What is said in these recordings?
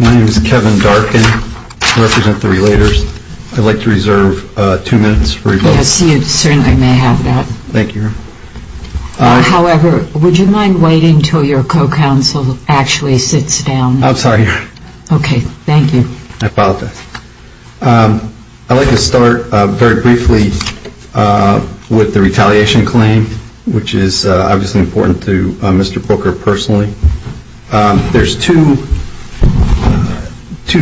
My name is Kevin Darkin. I represent the Relators. I'd like to reserve two minutes for rebuttals. Yes, you certainly may have that. However, would you mind waiting until your co-counsel actually sits down? I'm sorry. Okay, thank you. I apologize. I'd like to start very briefly with the retaliation claim, which is obviously important to Mr. Booker personally. There's two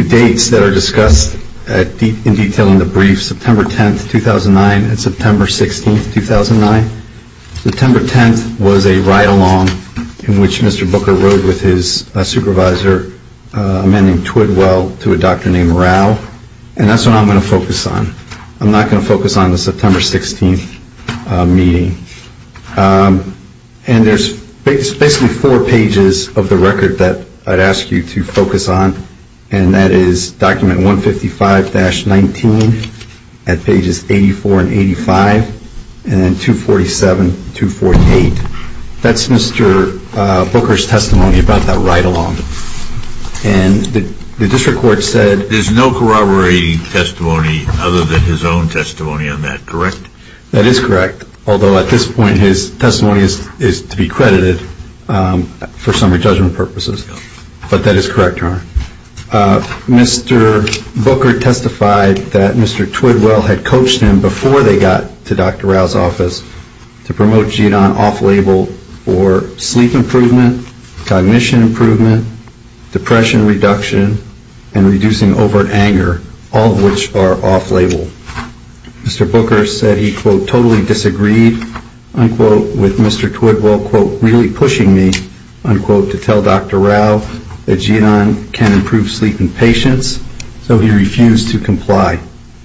dates that are discussed in detail in the brief, September 10th, 2009 and September 16th, 2009. September 10th was a ride-along in which Mr. Booker rode with his supervisor, a man named Twidwell, to a doctor named Rao. And that's what I'm going to focus on. I'm not going to focus on the September 16th meeting. And there's basically four pages of the record that I'd ask you to focus on. And that is document 155-19 at pages 84 and 85, and then 247, 248. That's Mr. Booker's testimony about that ride-along. And the district court said... There's no corroborating testimony other than his own testimony on that, correct? That is correct, although at this point his testimony is to be credited for summary judgment purposes. But that is correct, Your Honor. Mr. Booker testified that Mr. Twidwell had coached him before they got to Dr. Rao's office to promote GEDON off-label for sleep improvement, cognition improvement, depression reduction, and reducing overt anger, all of which are off-label. Mr. Booker said he, quote, totally disagreed, unquote, with Mr. Twidwell, quote, really pushing me, unquote, to tell Dr. Rao that GEDON can improve sleep in patients, so he refused to comply.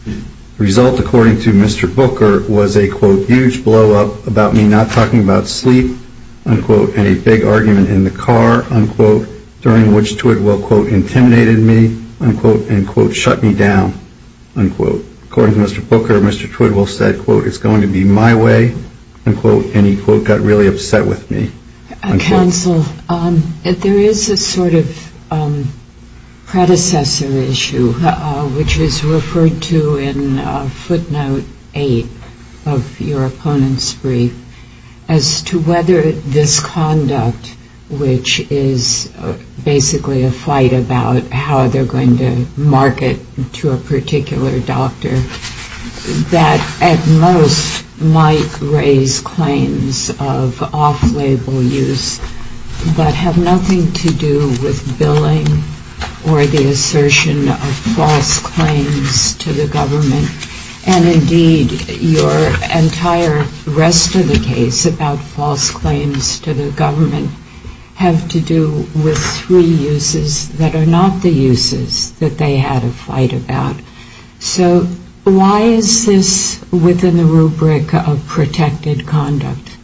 The result, according to Mr. Booker, was a, quote, huge blow-up about me not talking about sleep, unquote, and a big argument in the car, unquote, during which Twidwell, quote, intimidated me, unquote, and, quote, shut me down, unquote. According to Mr. Booker, Mr. Twidwell said, quote, it's going to be my way, unquote, and he, quote, got really upset with me. Counsel, there is a sort of predecessor issue, which is referred to in footnote 8 of your opponent's brief, as to whether this conduct, which is basically a fight about how they're going to market to a particular doctor, that at most might raise claims of off-label use, but have nothing to do with billing or the assertion of false claims to the government, and, indeed, your entire rest of the case about false claims to the government have to do with three uses that are not the uses that they had a fight about. So why is this within the rubric of protected conduct?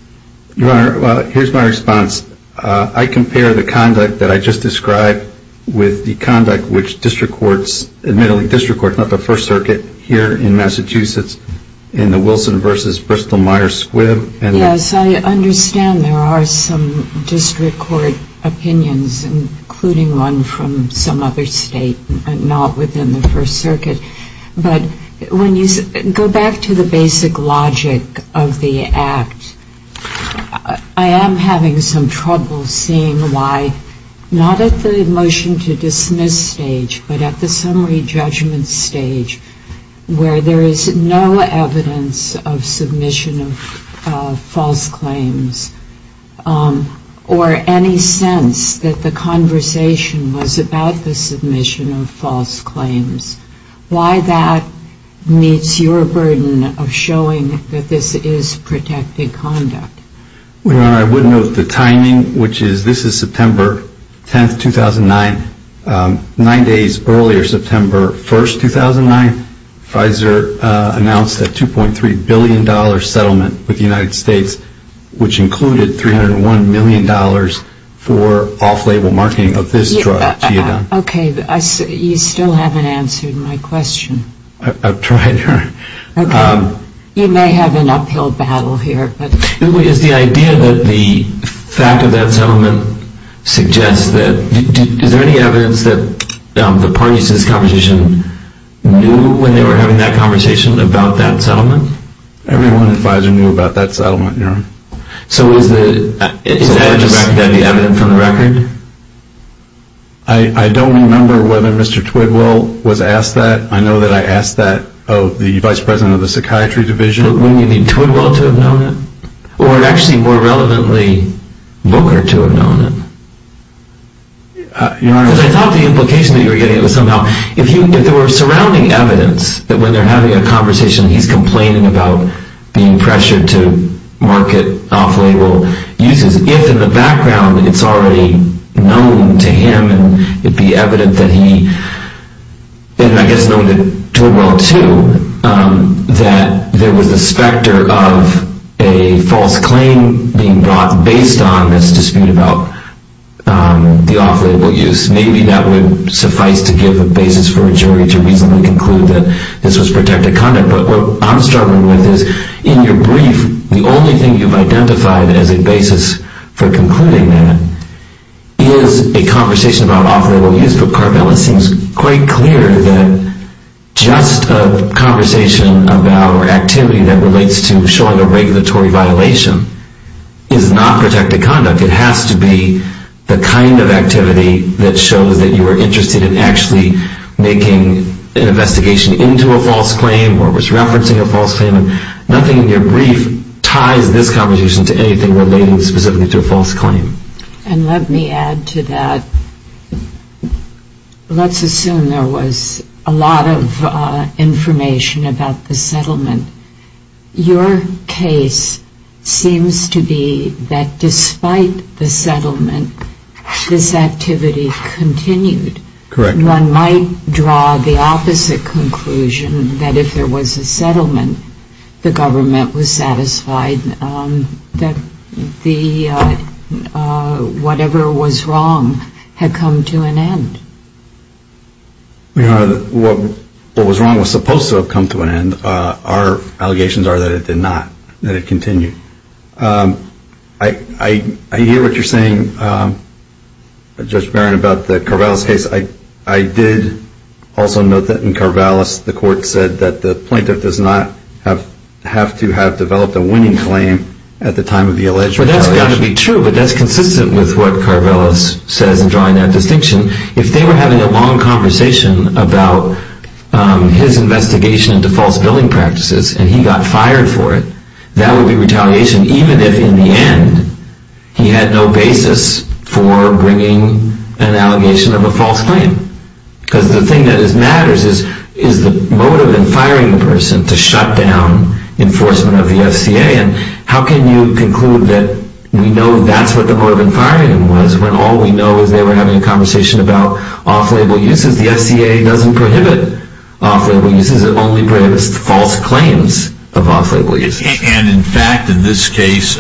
Your Honor, here's my response. I compare the conduct that I just described with the conduct which district courts, admittedly district courts, not the First Circuit here in Massachusetts, in the Wilson v. Bristol-Myers Squibb. Yes, I understand there are some district court opinions, including one from some other state, but not within the First Circuit. But when you go back to the basic logic of the act, I am having some trouble seeing why, not at the motion to dismiss stage, but at the summary judgment stage, where there is no evidence of submission of false claims, or any sense that the conversation was about the submission of false claims. Why that meets your burden of showing that this is protected conduct? Your Honor, I would note the timing, which is this is September 10, 2009, nine days earlier, September 1, 2009, Pfizer announced a $2.3 billion settlement with the United States, which included $301 million for off-label marketing of this drug, Geodon. Okay, you still haven't answered my question. I've tried, Your Honor. Okay, you may have an uphill battle here. Is the idea that the fact of that settlement suggests that, is there any evidence that the parties to this conversation knew when they were having that conversation about that settlement? Everyone at Pfizer knew about that settlement, Your Honor. So is that the evidence on the record? I don't remember whether Mr. Twidwell was asked that. I know that I asked that of the Vice President of the Psychiatry Division. Wouldn't you need Twidwell to have known it? Or actually, more relevantly, Booker to have known it? Your Honor. Because I thought the implication that you were getting at was somehow, if there were surrounding evidence that when they're having a conversation, he's complaining about being pressured to market off-label uses, if in the background it's already known to him and it'd be evident that he, and I guess known to Twidwell too, that there was a specter of a false claim being brought based on this dispute about the off-label use, maybe that would suffice to give a basis for a jury to reasonably conclude that this was protected conduct. But what I'm struggling with is, in your brief, the only thing you've identified as a basis for concluding that is a conversation about off-label use. But, Carvel, it seems quite clear that just a conversation about or activity that relates to showing a regulatory violation is not protected conduct. It has to be the kind of activity that shows that you were interested in actually making an investigation into a false claim or was referencing a false claim. Nothing in your brief ties this conversation to anything relating specifically to a false claim. And let me add to that, let's assume there was a lot of information about the settlement. Your case seems to be that despite the settlement, this activity continued. Correct. One might draw the opposite conclusion that if there was a settlement, the government was satisfied that whatever was wrong had come to an end. What was wrong was supposed to have come to an end. Our allegations are that it did not, that it continued. I hear what you're saying, Judge Barron, about the Carvelis case. I did also note that in Carvelis, the court said that the plaintiff does not have to have developed a winning claim at the time of the alleged retaliation. Well, that's got to be true, but that's consistent with what Carvelis says in drawing that distinction. If they were having a long conversation about his investigation into false billing practices and he got fired for it, that would be retaliation, even if in the end he had no basis for bringing an allegation of a false claim. Because the thing that matters is the motive in firing the person to shut down enforcement of the FCA. And how can you conclude that we know that's what the motive in firing him was when all we know is they were having a conversation about off-label uses? The FCA doesn't prohibit off-label uses. It only prohibits false claims of off-label uses. And, in fact, in this case,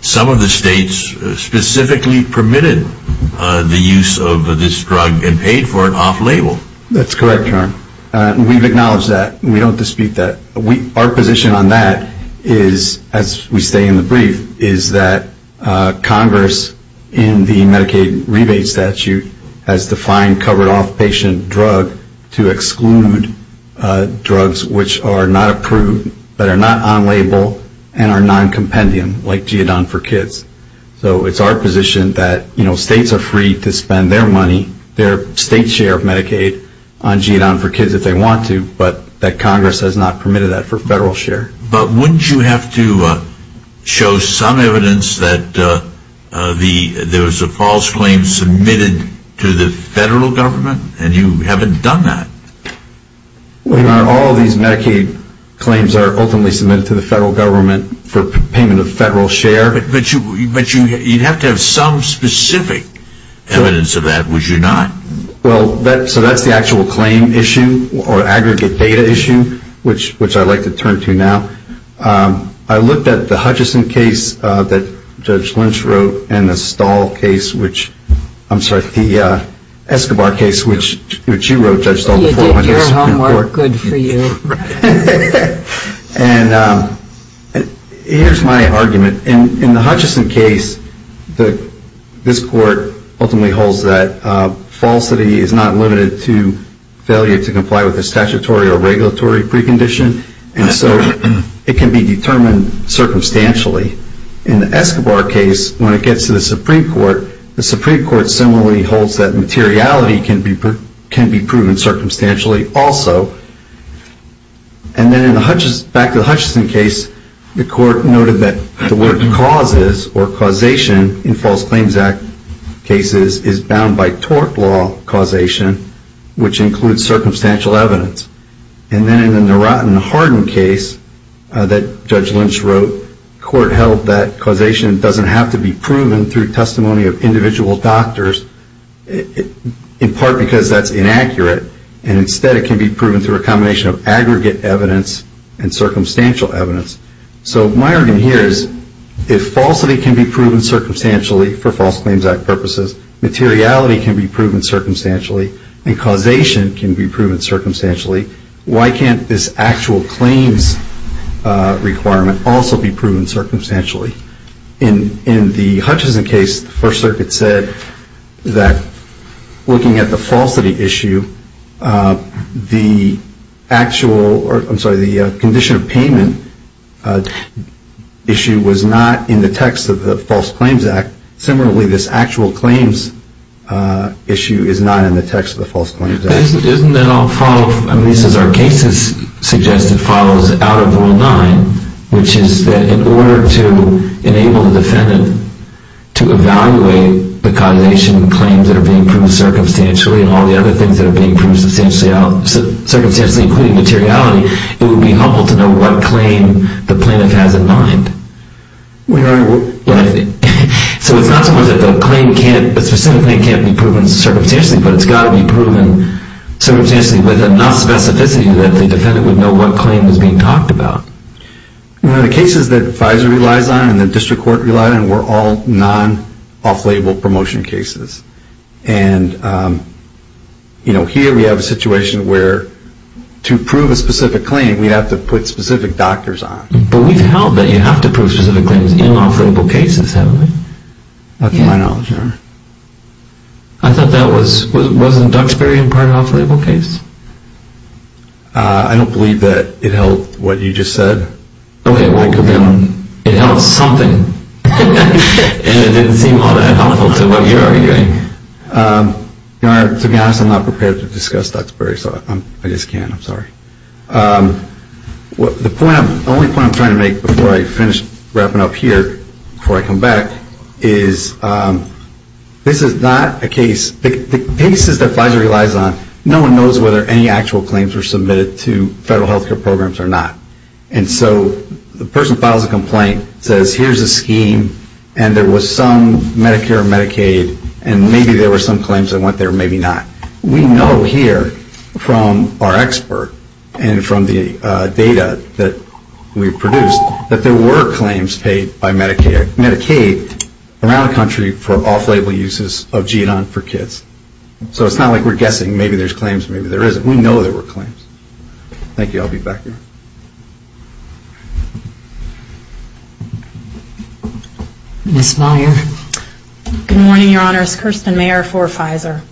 some of the states specifically permitted the use of this drug and paid for it off-label. That's correct, Your Honor. We've acknowledged that. We don't dispute that. Our position on that is, as we say in the brief, is that Congress, in the Medicaid rebate statute, has defined covered off-patient drug to exclude drugs which are not approved, that are not on-label, and are non-compendium, like GEDON for kids. So it's our position that states are free to spend their money, their state share of Medicaid on GEDON for kids if they want to, but that Congress has not permitted that for federal share. But wouldn't you have to show some evidence that there was a false claim submitted to the federal government, and you haven't done that? Your Honor, all of these Medicaid claims are ultimately submitted to the federal government for payment of federal share. But you'd have to have some specific evidence of that, would you not? Well, so that's the actual claim issue, or aggregate data issue, which I'd like to turn to now. I looked at the Hutchison case that Judge Lynch wrote, and the Stahl case, which, I'm sorry, the Escobar case, which you wrote, Judge Stahl, the 400th Supreme Court. You did your homework good for you. And here's my argument. In the Hutchison case, this Court ultimately holds that falsity is not limited to failure to comply with a statutory or regulatory precondition, and so it can be determined circumstantially. In the Escobar case, when it gets to the Supreme Court, the Supreme Court similarly holds that materiality can be proven circumstantially. And then back to the Hutchison case, the Court noted that the word causes, or causation, in False Claims Act cases, is bound by tort law causation, which includes circumstantial evidence. And then in the Narat and Hardin case that Judge Lynch wrote, the Court held that causation doesn't have to be proven through testimony of individual doctors, in part because that's inaccurate, and instead it can be proven through a combination of aggregate evidence and circumstantial evidence. So my argument here is, if falsity can be proven circumstantially for False Claims Act purposes, materiality can be proven circumstantially, and causation can be proven circumstantially, why can't this actual claims requirement also be proven circumstantially? In the Hutchison case, the First Circuit said that looking at the falsity issue, the actual, or I'm sorry, the condition of payment issue was not in the text of the False Claims Act. Similarly, this actual claims issue is not in the text of the False Claims Act. Isn't that all follow, at least as our case has suggested, follows out of Rule 9, which is that in order to enable the defendant to evaluate the causation claims that are being proved circumstantially and all the other things that are being proved circumstantially, including materiality, it would be helpful to know what claim the plaintiff has in mind. So it's not so much that the specific claim can't be proven circumstantially, but it's got to be proven circumstantially with enough specificity that the defendant would know what claim is being talked about. The cases that FISA relies on and the District Court relies on were all non-off-label promotion cases. And here we have a situation where to prove a specific claim, we have to put specific doctors on. But we've held that you have to prove specific claims in off-label cases, haven't we? Not to my knowledge, Your Honor. I thought that wasn't Duxbury in part an off-label case? I don't believe that it held what you just said. Okay, well, it held something. And it didn't seem all that helpful to what you're arguing. Your Honor, to be honest, I'm not prepared to discuss Duxbury, so I just can't. I'm sorry. The only point I'm trying to make before I finish wrapping up here, before I come back, is this is not a case, the cases that FISA relies on, no one knows whether any actual claims were submitted to federal health care programs or not. And so the person files a complaint, says here's a scheme, and there was some Medicare or Medicaid, and maybe there were some claims that went there, maybe not. We know here from our expert and from the data that we've produced that there were claims paid by Medicaid around the country for off-label uses of GEDON for kids. So it's not like we're guessing, maybe there's claims, maybe there isn't. We know there were claims. Thank you. I'll be back here. Ms. Meyer. Good morning, Your Honor. It's Kirsten Meyer for Pfizer.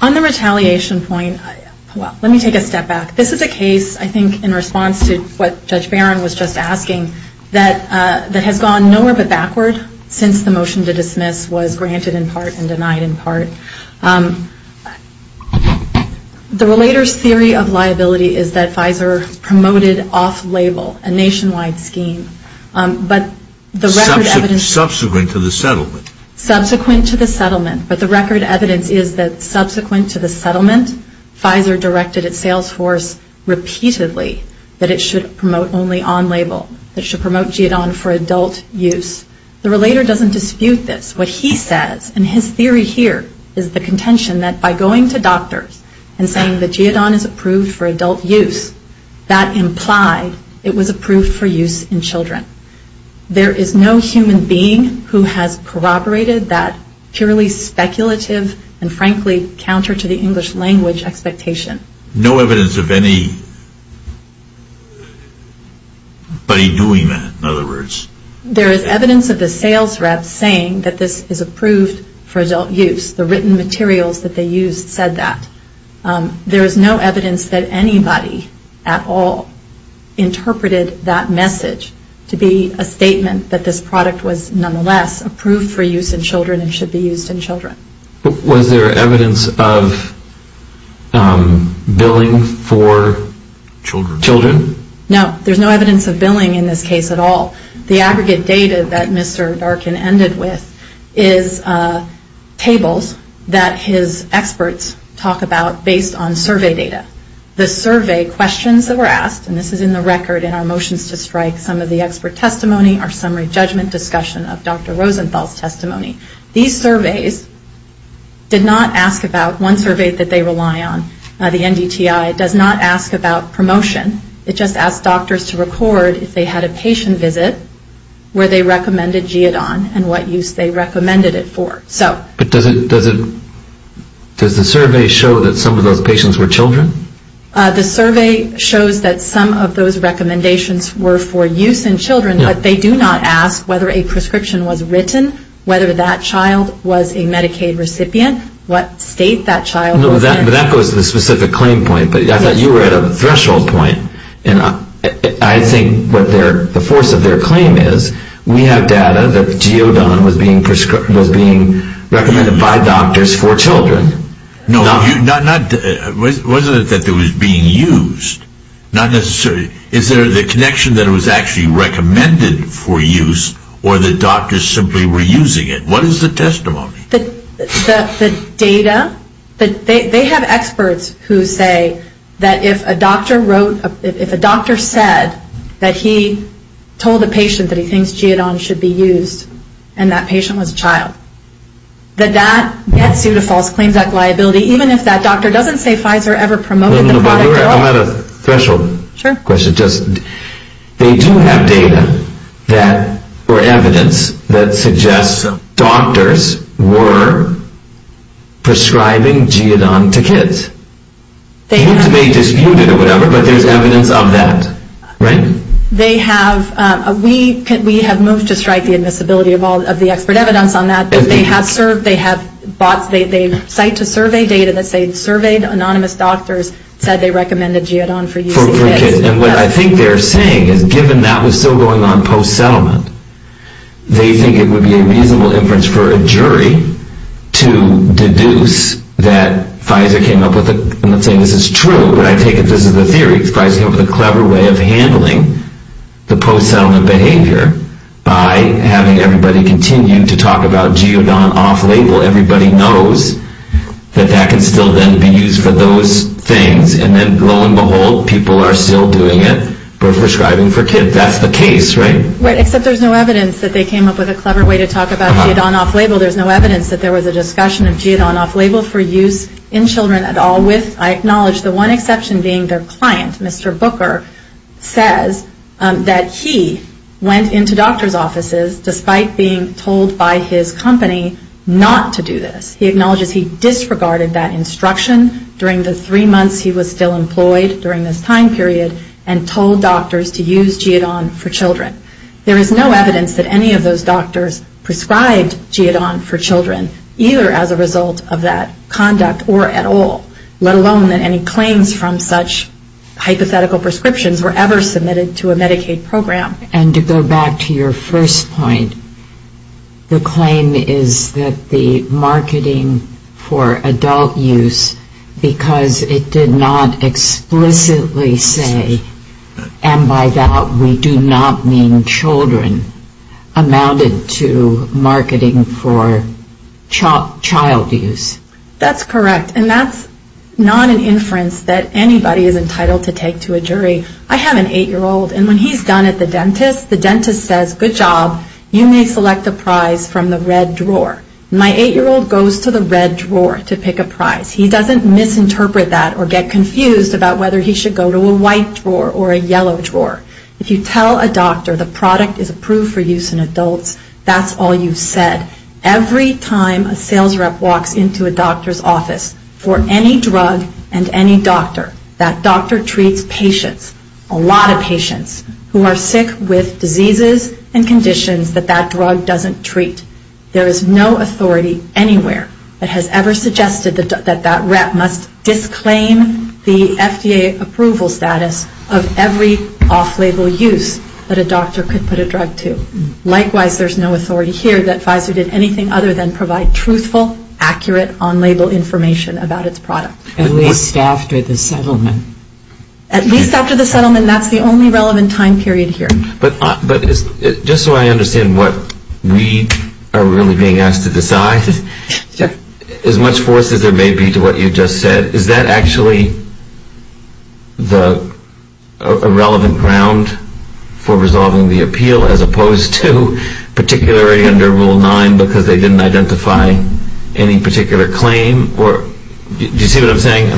On the retaliation point, well, let me take a step back. This is a case, I think in response to what Judge Barron was just asking, that has gone nowhere but backward since the motion to dismiss was granted in part and denied in part. So the relator's theory of liability is that Pfizer promoted off-label, a nationwide scheme, but the record evidence Subsequent to the settlement. Subsequent to the settlement, but the record evidence is that subsequent to the settlement, Pfizer directed its sales force repeatedly that it should promote only on-label, that it should promote GEDON for adult use. The relator doesn't dispute this. What he says, and his theory here, is the contention that by going to doctors and saying that GEDON is approved for adult use, that implied it was approved for use in children. There is no human being who has corroborated that purely speculative and frankly counter to the English language expectation. No evidence of anybody doing that, in other words. There is evidence of the sales rep saying that this is approved for adult use. The written materials that they used said that. There is no evidence that anybody at all interpreted that message to be a statement that this product was nonetheless approved for use in children and should be used in children. Was there evidence of billing for children? No, there is no evidence of billing in this case at all. The aggregate data that Mr. Darkin ended with is tables that his experts talk about based on survey data. The survey questions that were asked, and this is in the record in our motions to strike, some of the expert testimony, our summary judgment discussion of Dr. Rosenthal's testimony. These surveys did not ask about one survey that they rely on, the NDTI, it does not ask about promotion. It just asked doctors to record if they had a patient visit, where they recommended Geodon and what use they recommended it for. But does the survey show that some of those patients were children? The survey shows that some of those recommendations were for use in children, but they do not ask whether a prescription was written, whether that child was a Medicaid recipient, what state that child was in. That goes to the specific claim point, but I thought you were at a threshold point, and I think what the force of their claim is, we have data that Geodon was being recommended by doctors for children. No, wasn't it that it was being used? Not necessarily. Is there the connection that it was actually recommended for use, or the doctors simply were using it? What is the testimony? The data, they have experts who say that if a doctor wrote, if a doctor said that he told a patient that he thinks Geodon should be used, and that patient was a child, that that gets you to false claims liability, even if that doctor doesn't say Pfizer ever promoted the product at all. I'm at a threshold question. They do have data or evidence that suggests doctors were prescribing Geodon to kids. It may be disputed or whatever, but there's evidence of that, right? We have moved to strike the admissibility of the expert evidence on that, but they cite to survey data that say surveyed anonymous doctors said they recommended Geodon for use in kids. And what I think they're saying is given that was still going on post-settlement, they think it would be a reasonable inference for a jury to deduce that Pfizer came up with it. I'm not saying this is true, but I take it this is the theory. Pfizer came up with a clever way of handling the post-settlement behavior by having everybody continue to talk about Geodon off-label. Everybody knows that that can still then be used for those things, and then lo and behold, people are still doing it for prescribing for kids. That's the case, right? Right, except there's no evidence that they came up with a clever way to talk about Geodon off-label. There's no evidence that there was a discussion of Geodon off-label for use in children at all. I acknowledge the one exception being their client, Mr. Booker, says that he went into doctors' offices despite being told by his company not to do this. He acknowledges he disregarded that instruction during the three months he was still employed during this time period and told doctors to use Geodon for children. There is no evidence that any of those doctors prescribed Geodon for children, either as a result of that conduct or at all, let alone that any claims from such hypothetical prescriptions were ever submitted to a Medicaid program. And to go back to your first point, the claim is that the marketing for adult use, because it did not explicitly say, and by that we do not mean children, amounted to marketing for child use. That's correct, and that's not an inference that anybody is entitled to take to a jury. I have an eight-year-old, and when he's done at the dentist, the dentist says, good job, you may select a prize from the red drawer. My eight-year-old goes to the red drawer to pick a prize. He doesn't misinterpret that or get confused about whether he should go to a white drawer or a yellow drawer. If you tell a doctor the product is approved for use in adults, that's all you've said. Every time a sales rep walks into a doctor's office for any drug and any doctor, that doctor treats patients, a lot of patients, who are sick with diseases and conditions that that drug doesn't treat. There is no authority anywhere that has ever suggested that that rep must disclaim the FDA approval status of every off-label use that a doctor could put a drug to. Likewise, there's no authority here that Pfizer did anything other than provide truthful, accurate, on-label information about its product. At least after the settlement. At least after the settlement, that's the only relevant time period here. But just so I understand what we are really being asked to decide, as much force as there may be to what you just said, is that actually a relevant ground for resolving the appeal, as opposed to particularly under Rule 9 because they didn't identify any particular claim? Do you see what I'm saying?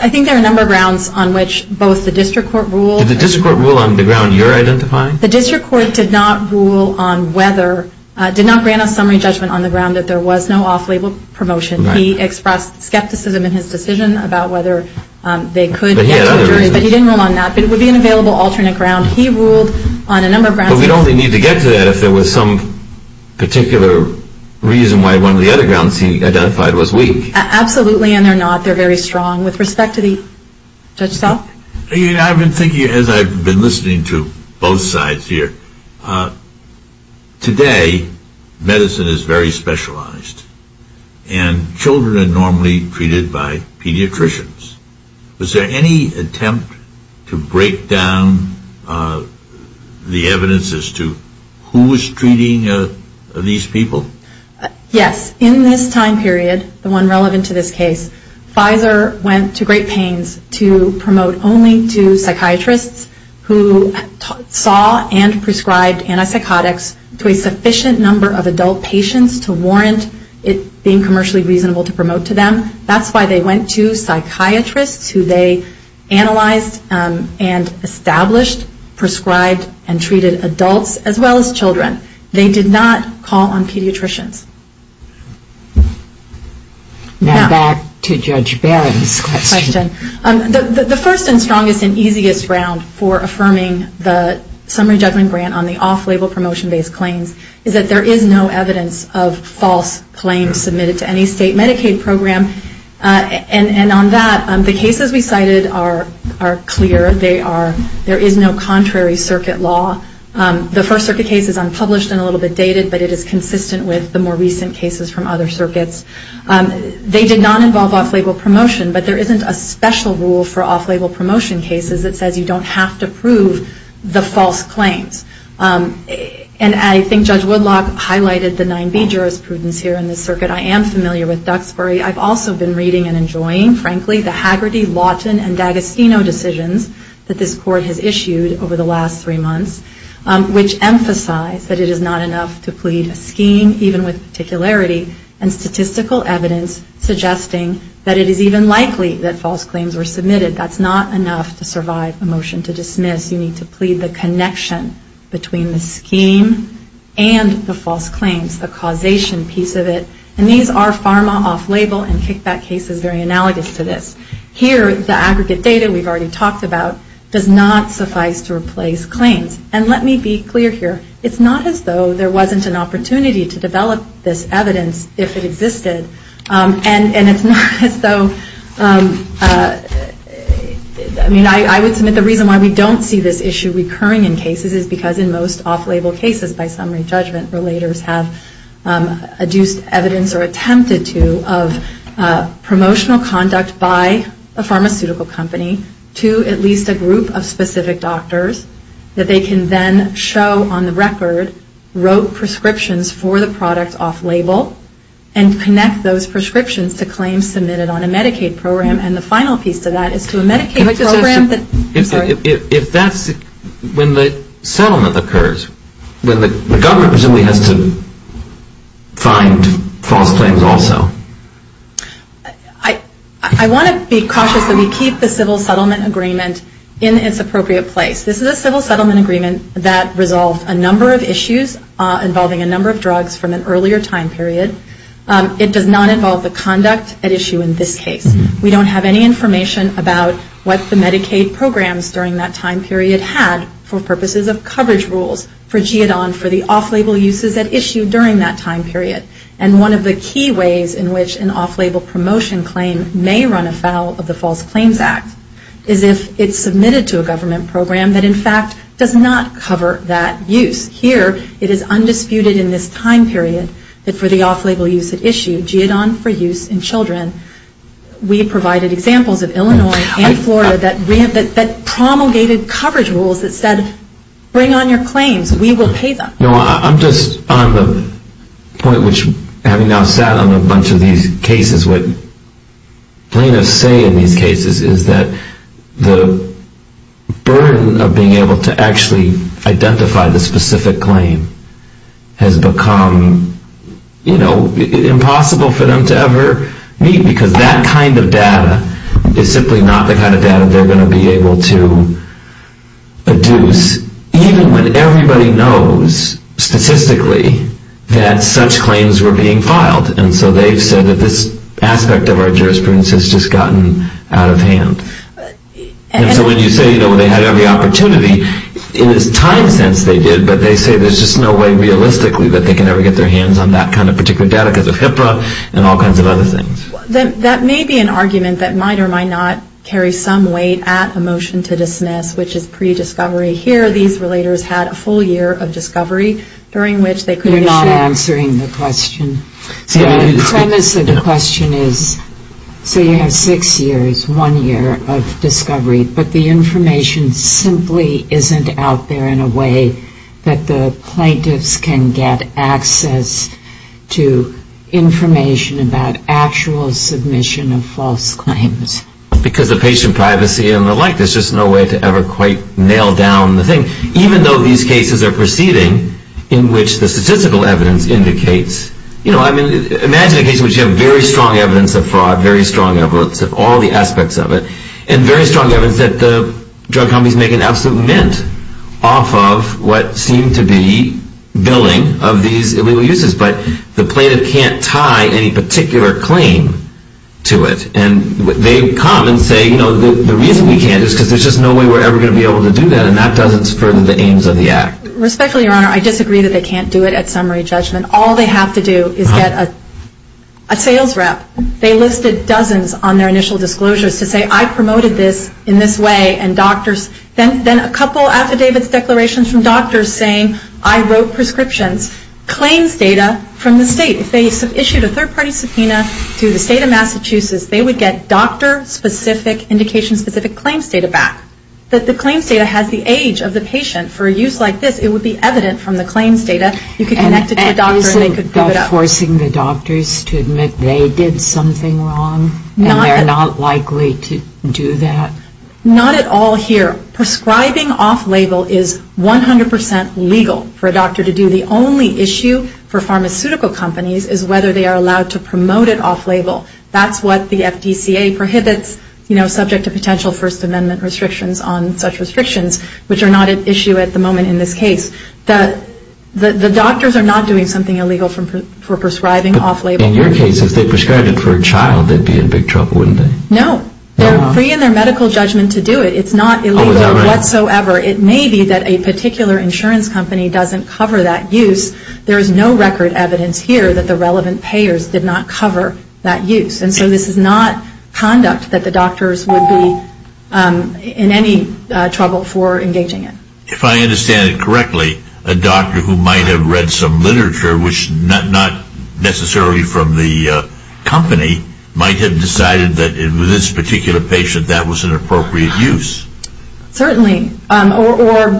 I think there are a number of grounds on which both the district court ruled. Did the district court rule on the ground you're identifying? The district court did not rule on whether, did not grant a summary judgment on the ground that there was no off-label promotion. He expressed skepticism in his decision about whether they could get to a jury. But he didn't rule on that. But it would be an available alternate ground. He ruled on a number of grounds. But we'd only need to get to that if there was some particular reason why one of the other grounds he identified was weak. Absolutely. And they're not. They're very strong. With respect to the judge's office. I've been thinking as I've been listening to both sides here. Today, medicine is very specialized. And children are normally treated by pediatricians. Was there any attempt to break down the evidence as to who was treating these people? Yes. In this time period, the one relevant to this case, Pfizer went to great pains to promote only to psychiatrists who saw and prescribed antipsychotics to a sufficient number of adult patients to warrant it being commercially reasonable to promote to them. That's why they went to psychiatrists who they analyzed and established, prescribed and treated adults as well as children. They did not call on pediatricians. Now back to Judge Barrett's question. The first and strongest and easiest ground for affirming the summary judgment grant on the off-label promotion-based claims is that there is no evidence of false claims submitted to any state Medicaid program. And on that, the cases we cited are clear. There is no contrary circuit law. The first circuit case is unpublished and a little bit dated, but it is consistent with the more recent cases from other circuits. They did not involve off-label promotion, but there isn't a special rule for off-label promotion cases that says you don't have to prove the false claims. And I think Judge Woodlock highlighted the 9B jurisprudence here in this circuit. I am familiar with Duxbury. I've also been reading and enjoying, frankly, the Hagerty, Lawton, and D'Agostino decisions that this Court has issued over the last three months, which emphasize that it is not enough to plead a scheme even with particularity and statistical evidence suggesting that it is even likely that false claims were submitted. That's not enough to survive a motion to dismiss. You need to plead the connection between the scheme and the false claims, the causation piece of it. And these are pharma off-label and kickback cases very analogous to this. Here, the aggregate data we've already talked about does not suffice to replace claims. And let me be clear here. It's not as though there wasn't an opportunity to develop this evidence if it existed. And it's not as though, I mean, I would submit the reason why we don't see this issue recurring in cases is because in most off-label cases, by summary judgment, relators have adduced evidence or attempted to of promotional conduct by a pharmaceutical company to at least a group of specific doctors that they can then show on the record, wrote prescriptions for the product off-label and connect those prescriptions to claims submitted on a Medicaid program. And the final piece to that is to a Medicaid program that... If that's when the settlement occurs, when the government presumably has to find false claims also. I want to be cautious that we keep the civil settlement agreement in its appropriate place. This is a civil settlement agreement that resolved a number of issues involving a number of drugs from an earlier time period. It does not involve the conduct at issue in this case. We don't have any information about what the Medicaid programs during that time period had for purposes of coverage rules for GEDON for the off-label uses at issue during that time period. And one of the key ways in which an off-label promotion claim may run afoul of the False Claims Act is if it's submitted to a government program that in fact does not cover that use. Here it is undisputed in this time period that for the off-label use at issue, GEDON for use in children, we provided examples of Illinois and Florida that promulgated coverage rules that said, bring on your claims, we will pay them. I'm just on the point which having now sat on a bunch of these cases, what plaintiffs say in these cases is that the burden of being able to actually identify the specific claim has become impossible for them to ever meet because that kind of data is simply not the kind of data they're going to be able to deduce even when everybody knows statistically that such claims were being filed. And so they've said that this aspect of our jurisprudence has just gotten out of hand. And so when you say they had every opportunity, in a time sense they did, but they say there's just no way realistically that they can ever get their hands on that kind of particular data because of HIPAA and all kinds of other things. That may be an argument that might or might not carry some weight at a motion to dismiss, which is pre-discovery. Here these relators had a full year of discovery during which they could issue You're not answering the question. So you have six years, one year of discovery, but the information simply isn't out there in a way that the plaintiffs can get access to information about actual submission of false claims. Because of patient privacy and the like, there's just no way to ever quite nail down the thing, even though these cases are proceeding in which the statistical evidence indicates. Imagine a case in which you have very strong evidence of fraud, very strong evidence of all the aspects of it, and very strong evidence that the drug companies make an absolute mint off of what seemed to be billing of these illegal uses. But the plaintiff can't tie any particular claim to it. And they come and say, you know, the reason we can't is because there's just no way we're ever going to be able to do that. And that doesn't spur the aims of the act. Respectfully, Your Honor, I disagree that they can't do it at summary judgment. All they have to do is get a sales rep. They listed dozens on their initial disclosures to say, I promoted this in this way. And then a couple affidavits declarations from doctors saying, I wrote prescriptions. Claims data from the state. If they issued a third-party subpoena to the state of Massachusetts, they would get doctor-specific, indication-specific claims data back. If the claims data has the age of the patient for a use like this, it would be evident from the claims data. You could connect it to a doctor and they could prove it up. And they're not likely to do that? Not at all here. Prescribing off-label is 100% legal for a doctor to do. The only issue for pharmaceutical companies is whether they are allowed to promote it off-label. That's what the FDCA prohibits, you know, subject to potential First Amendment restrictions on such restrictions, which are not at issue at the moment in this case. The doctors are not doing something illegal for prescribing off-label. In your case, if they prescribed it for a child, they'd be in big trouble, wouldn't they? No. They're free in their medical judgment to do it. It's not illegal whatsoever. It may be that a particular insurance company doesn't cover that use. There is no record evidence here that the relevant payers did not cover that use. And so this is not conduct that the doctors would be in any trouble for engaging in. If I understand it correctly, a doctor who might have read some literature, which not necessarily from the company, might have decided that in this particular patient that was an appropriate use. Certainly. Or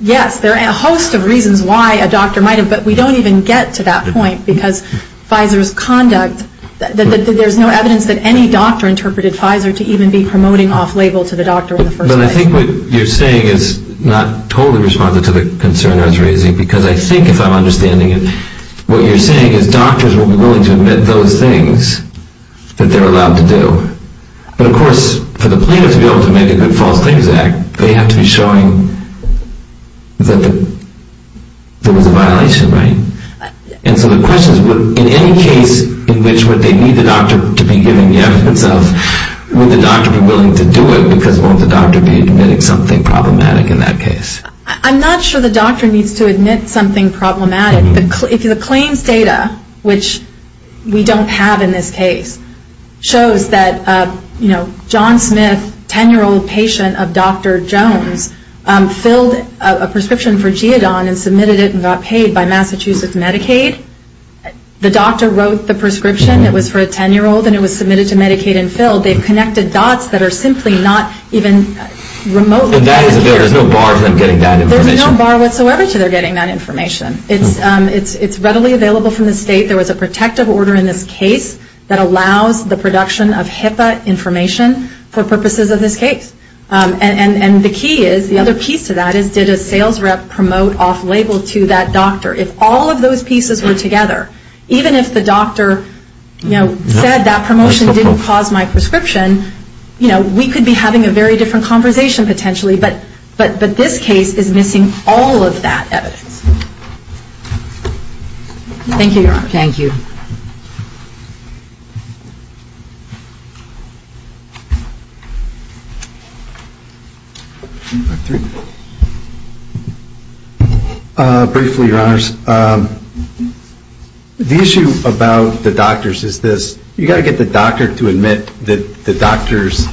yes, there are a host of reasons why a doctor might have. But we don't even get to that point because Pfizer's conduct, there's no evidence that any doctor interpreted Pfizer to even be promoting off-label to the doctor in the first place. But I think what you're saying is not totally responsive to the concern I was raising. Because I think if I'm understanding it, what you're saying is doctors will be willing to admit those things that they're allowed to do. But of course, for the plaintiff to be able to make a good False Things Act, they have to be showing that there was a violation, right? And so the question is, in any case in which would they need the doctor to be giving the evidence of, would the doctor be willing to do it because won't the doctor be admitting something problematic in that case? I'm not sure the doctor needs to admit something problematic. The claims data, which we don't have in this case, shows that John Smith, 10-year-old patient of Dr. Jones, filled a prescription for Geodon and submitted it and got paid by Massachusetts Medicaid. The doctor wrote the prescription. It was for a 10-year-old and it was submitted to Medicaid and filled. They've connected dots that are simply not even remotely connected. There's no bar to them getting that information. There's no bar whatsoever to them getting that information. It's readily available from the state. There was a protective order in this case that allows the production of HIPAA information for purposes of this case. And the key is, the other piece to that is, did a sales rep promote off-label to that doctor? If all of those pieces were together, even if the doctor said that promotion didn't cause my prescription, we could be having a very different conversation potentially. But this case is missing all of that evidence. Thank you, Your Honor. Thank you. Briefly, Your Honors, the issue about the doctors is this. You've got to get the doctor to admit that the doctor's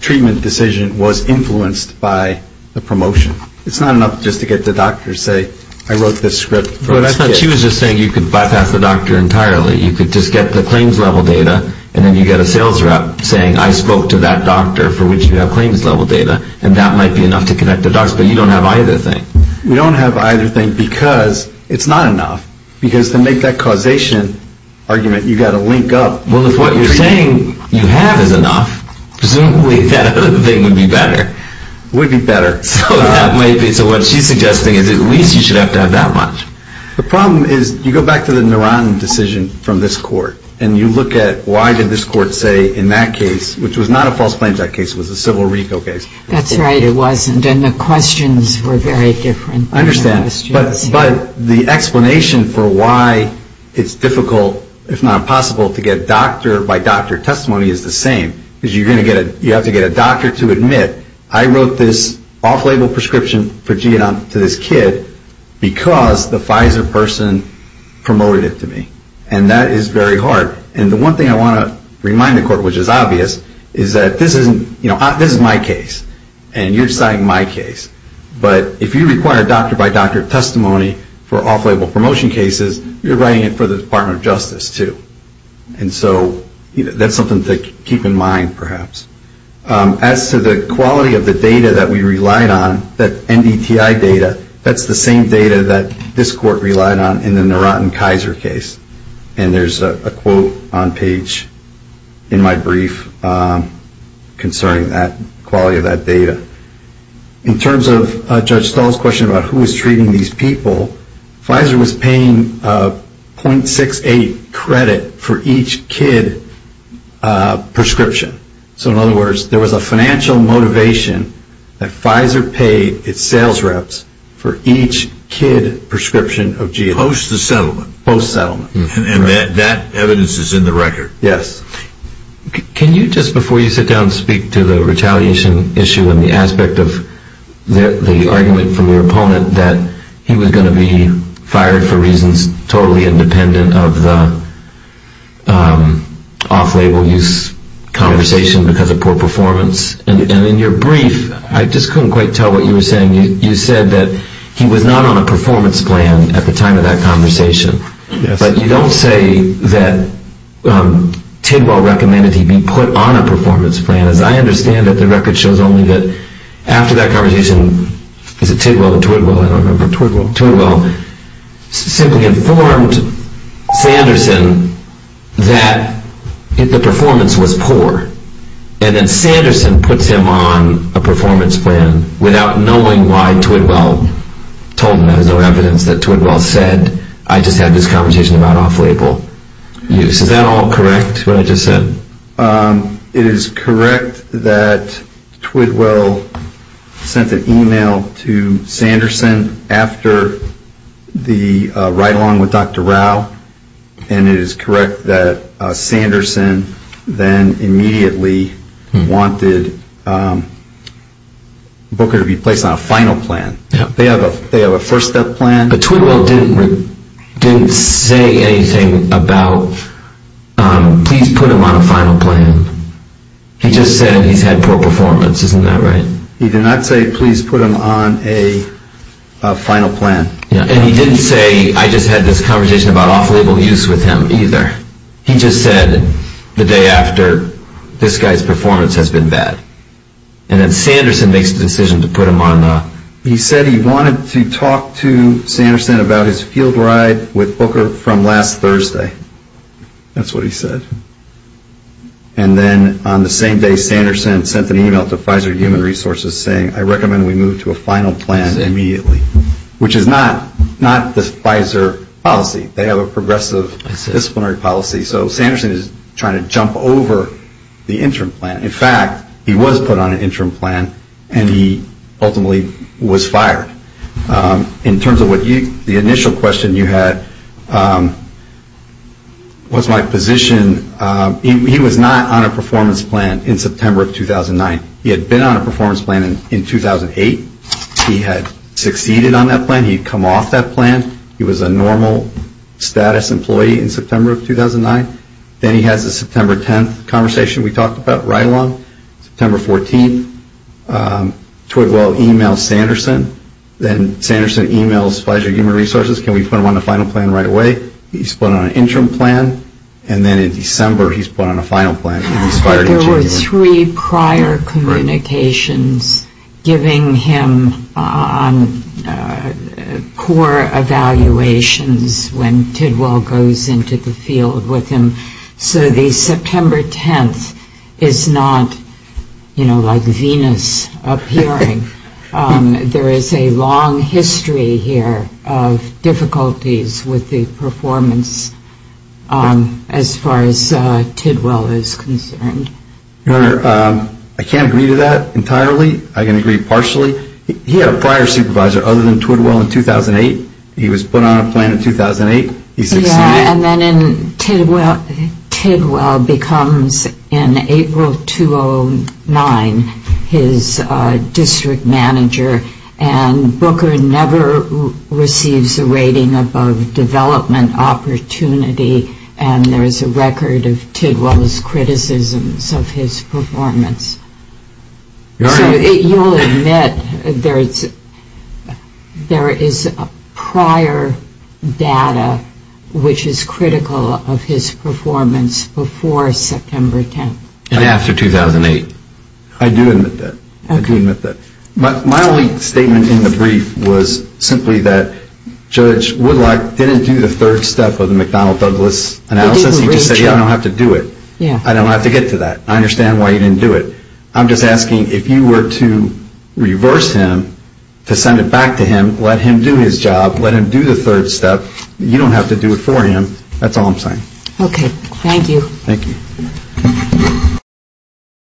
treatment decision was influenced by the promotion. It's not enough just to get the doctor to say, I wrote this script. She was just saying you could bypass the doctor entirely. You could just get the claims-level data, and then you get a sales rep saying, I spoke to that doctor for which you have claims-level data, and that might be enough to connect the dots. But you don't have either thing. We don't have either thing because it's not enough. Because to make that causation argument, you've got to link up. Well, if what you're saying you have is enough, presumably that other thing would be better. It would be better. So what she's suggesting is at least you should have to have that much. The problem is you go back to the Naran decision from this court, and you look at why did this court say in that case, which was not a false claims act case, it was a civil RICO case. That's right, it wasn't. And the questions were very different. I understand. But the explanation for why it's difficult, if not impossible, to get doctor-by-doctor testimony is the same. You have to get a doctor to admit, I wrote this off-label prescription to this kid because the Pfizer person promoted it to me. And that is very hard. And the one thing I want to remind the court, which is obvious, is that this is my case. And you're deciding my case. But if you require doctor-by-doctor testimony for off-label promotion cases, you're writing it for the Department of Justice, too. And so that's something to keep in mind, perhaps. As to the quality of the data that we relied on, that NDTI data, that's the same data that this court relied on in the Naran and Kaiser case. And there's a quote on page in my brief concerning that quality of that data. In terms of Judge Stahl's question about who was treating these people, Pfizer was paying .68 credit for each kid prescription. So in other words, there was a financial motivation that Pfizer paid its sales reps for each kid prescription of GLA. Post-settlement. And that evidence is in the record. Yes. Can you just, before you sit down and speak to the retaliation issue and the aspect of the argument from your opponent that he was going to be fired for reasons totally independent of the off-label use conversation because of poor performance? And in your brief, I just couldn't quite tell what you were saying. You said that he was not on a performance plan at the time of that conversation. But you don't say that Tidwell recommended he be put on a performance plan. As I understand it, the record shows only that after that conversation, is it Tidwell or Twidwell? Twidwell. Twidwell simply informed Sanderson that the performance was poor. And then Sanderson puts him on a performance plan without knowing why Twidwell told him. There's no evidence that Twidwell said, I just had this conversation about off-label use. Is that all correct, what I just said? It is correct that Twidwell sent an email to Sanderson after the ride-along with Dr. Rao. And it is correct that Sanderson then immediately wanted Booker to be placed on a final plan. They have a first-step plan. But Twidwell didn't say anything about, please put him on a final plan. He just said he's had poor performance, isn't that right? He did not say, please put him on a final plan. And he didn't say, I just had this conversation about off-label use with him either. He just said the day after, this guy's performance has been bad. And then Sanderson makes the decision to put him on the... He said he wanted to talk to Sanderson about his field ride with Booker from last Thursday. That's what he said. And then on the same day, Sanderson sent an email to Pfizer Human Resources saying, I recommend we move to a final plan immediately, which is not the Pfizer policy. They have a progressive disciplinary policy. So Sanderson is trying to jump over the interim plan. In fact, he was put on an interim plan, and he ultimately was fired. In terms of the initial question you had, what's my position? He was not on a performance plan in September of 2009. He had been on a performance plan in 2008. He had succeeded on that plan. He had come off that plan. He was a normal status employee in September of 2009. Then he has the September 10th conversation we talked about right along, September 14th. Tweedwell emails Sanderson. Then Sanderson emails Pfizer Human Resources, can we put him on the final plan right away? He's put on an interim plan, and then in December he's put on a final plan, and he's fired. There were three prior communications giving him on core evaluations when Tweedwell goes into the field with him. So the September 10th is not like Venus appearing. There is a long history here of difficulties with the performance as far as Tweedwell is concerned. Your Honor, I can't agree to that entirely. I can agree partially. He had a prior supervisor other than Tweedwell in 2008. He was put on a plan in 2008. He succeeded. Yeah, and then Tweedwell becomes in April 2009 his district manager. And Booker never receives a rating above development opportunity, and there is a record of Tweedwell's criticisms of his performance. Your Honor. So you will admit there is prior data which is critical of his performance before September 10th. And after 2008. I do admit that. My only statement in the brief was simply that Judge Woodlock didn't do the third step of the McDonnell Douglas analysis. I'm just asking if you were to reverse him to send it back to him, let him do his job, let him do the third step, you don't have to do it for him. That's all I'm saying.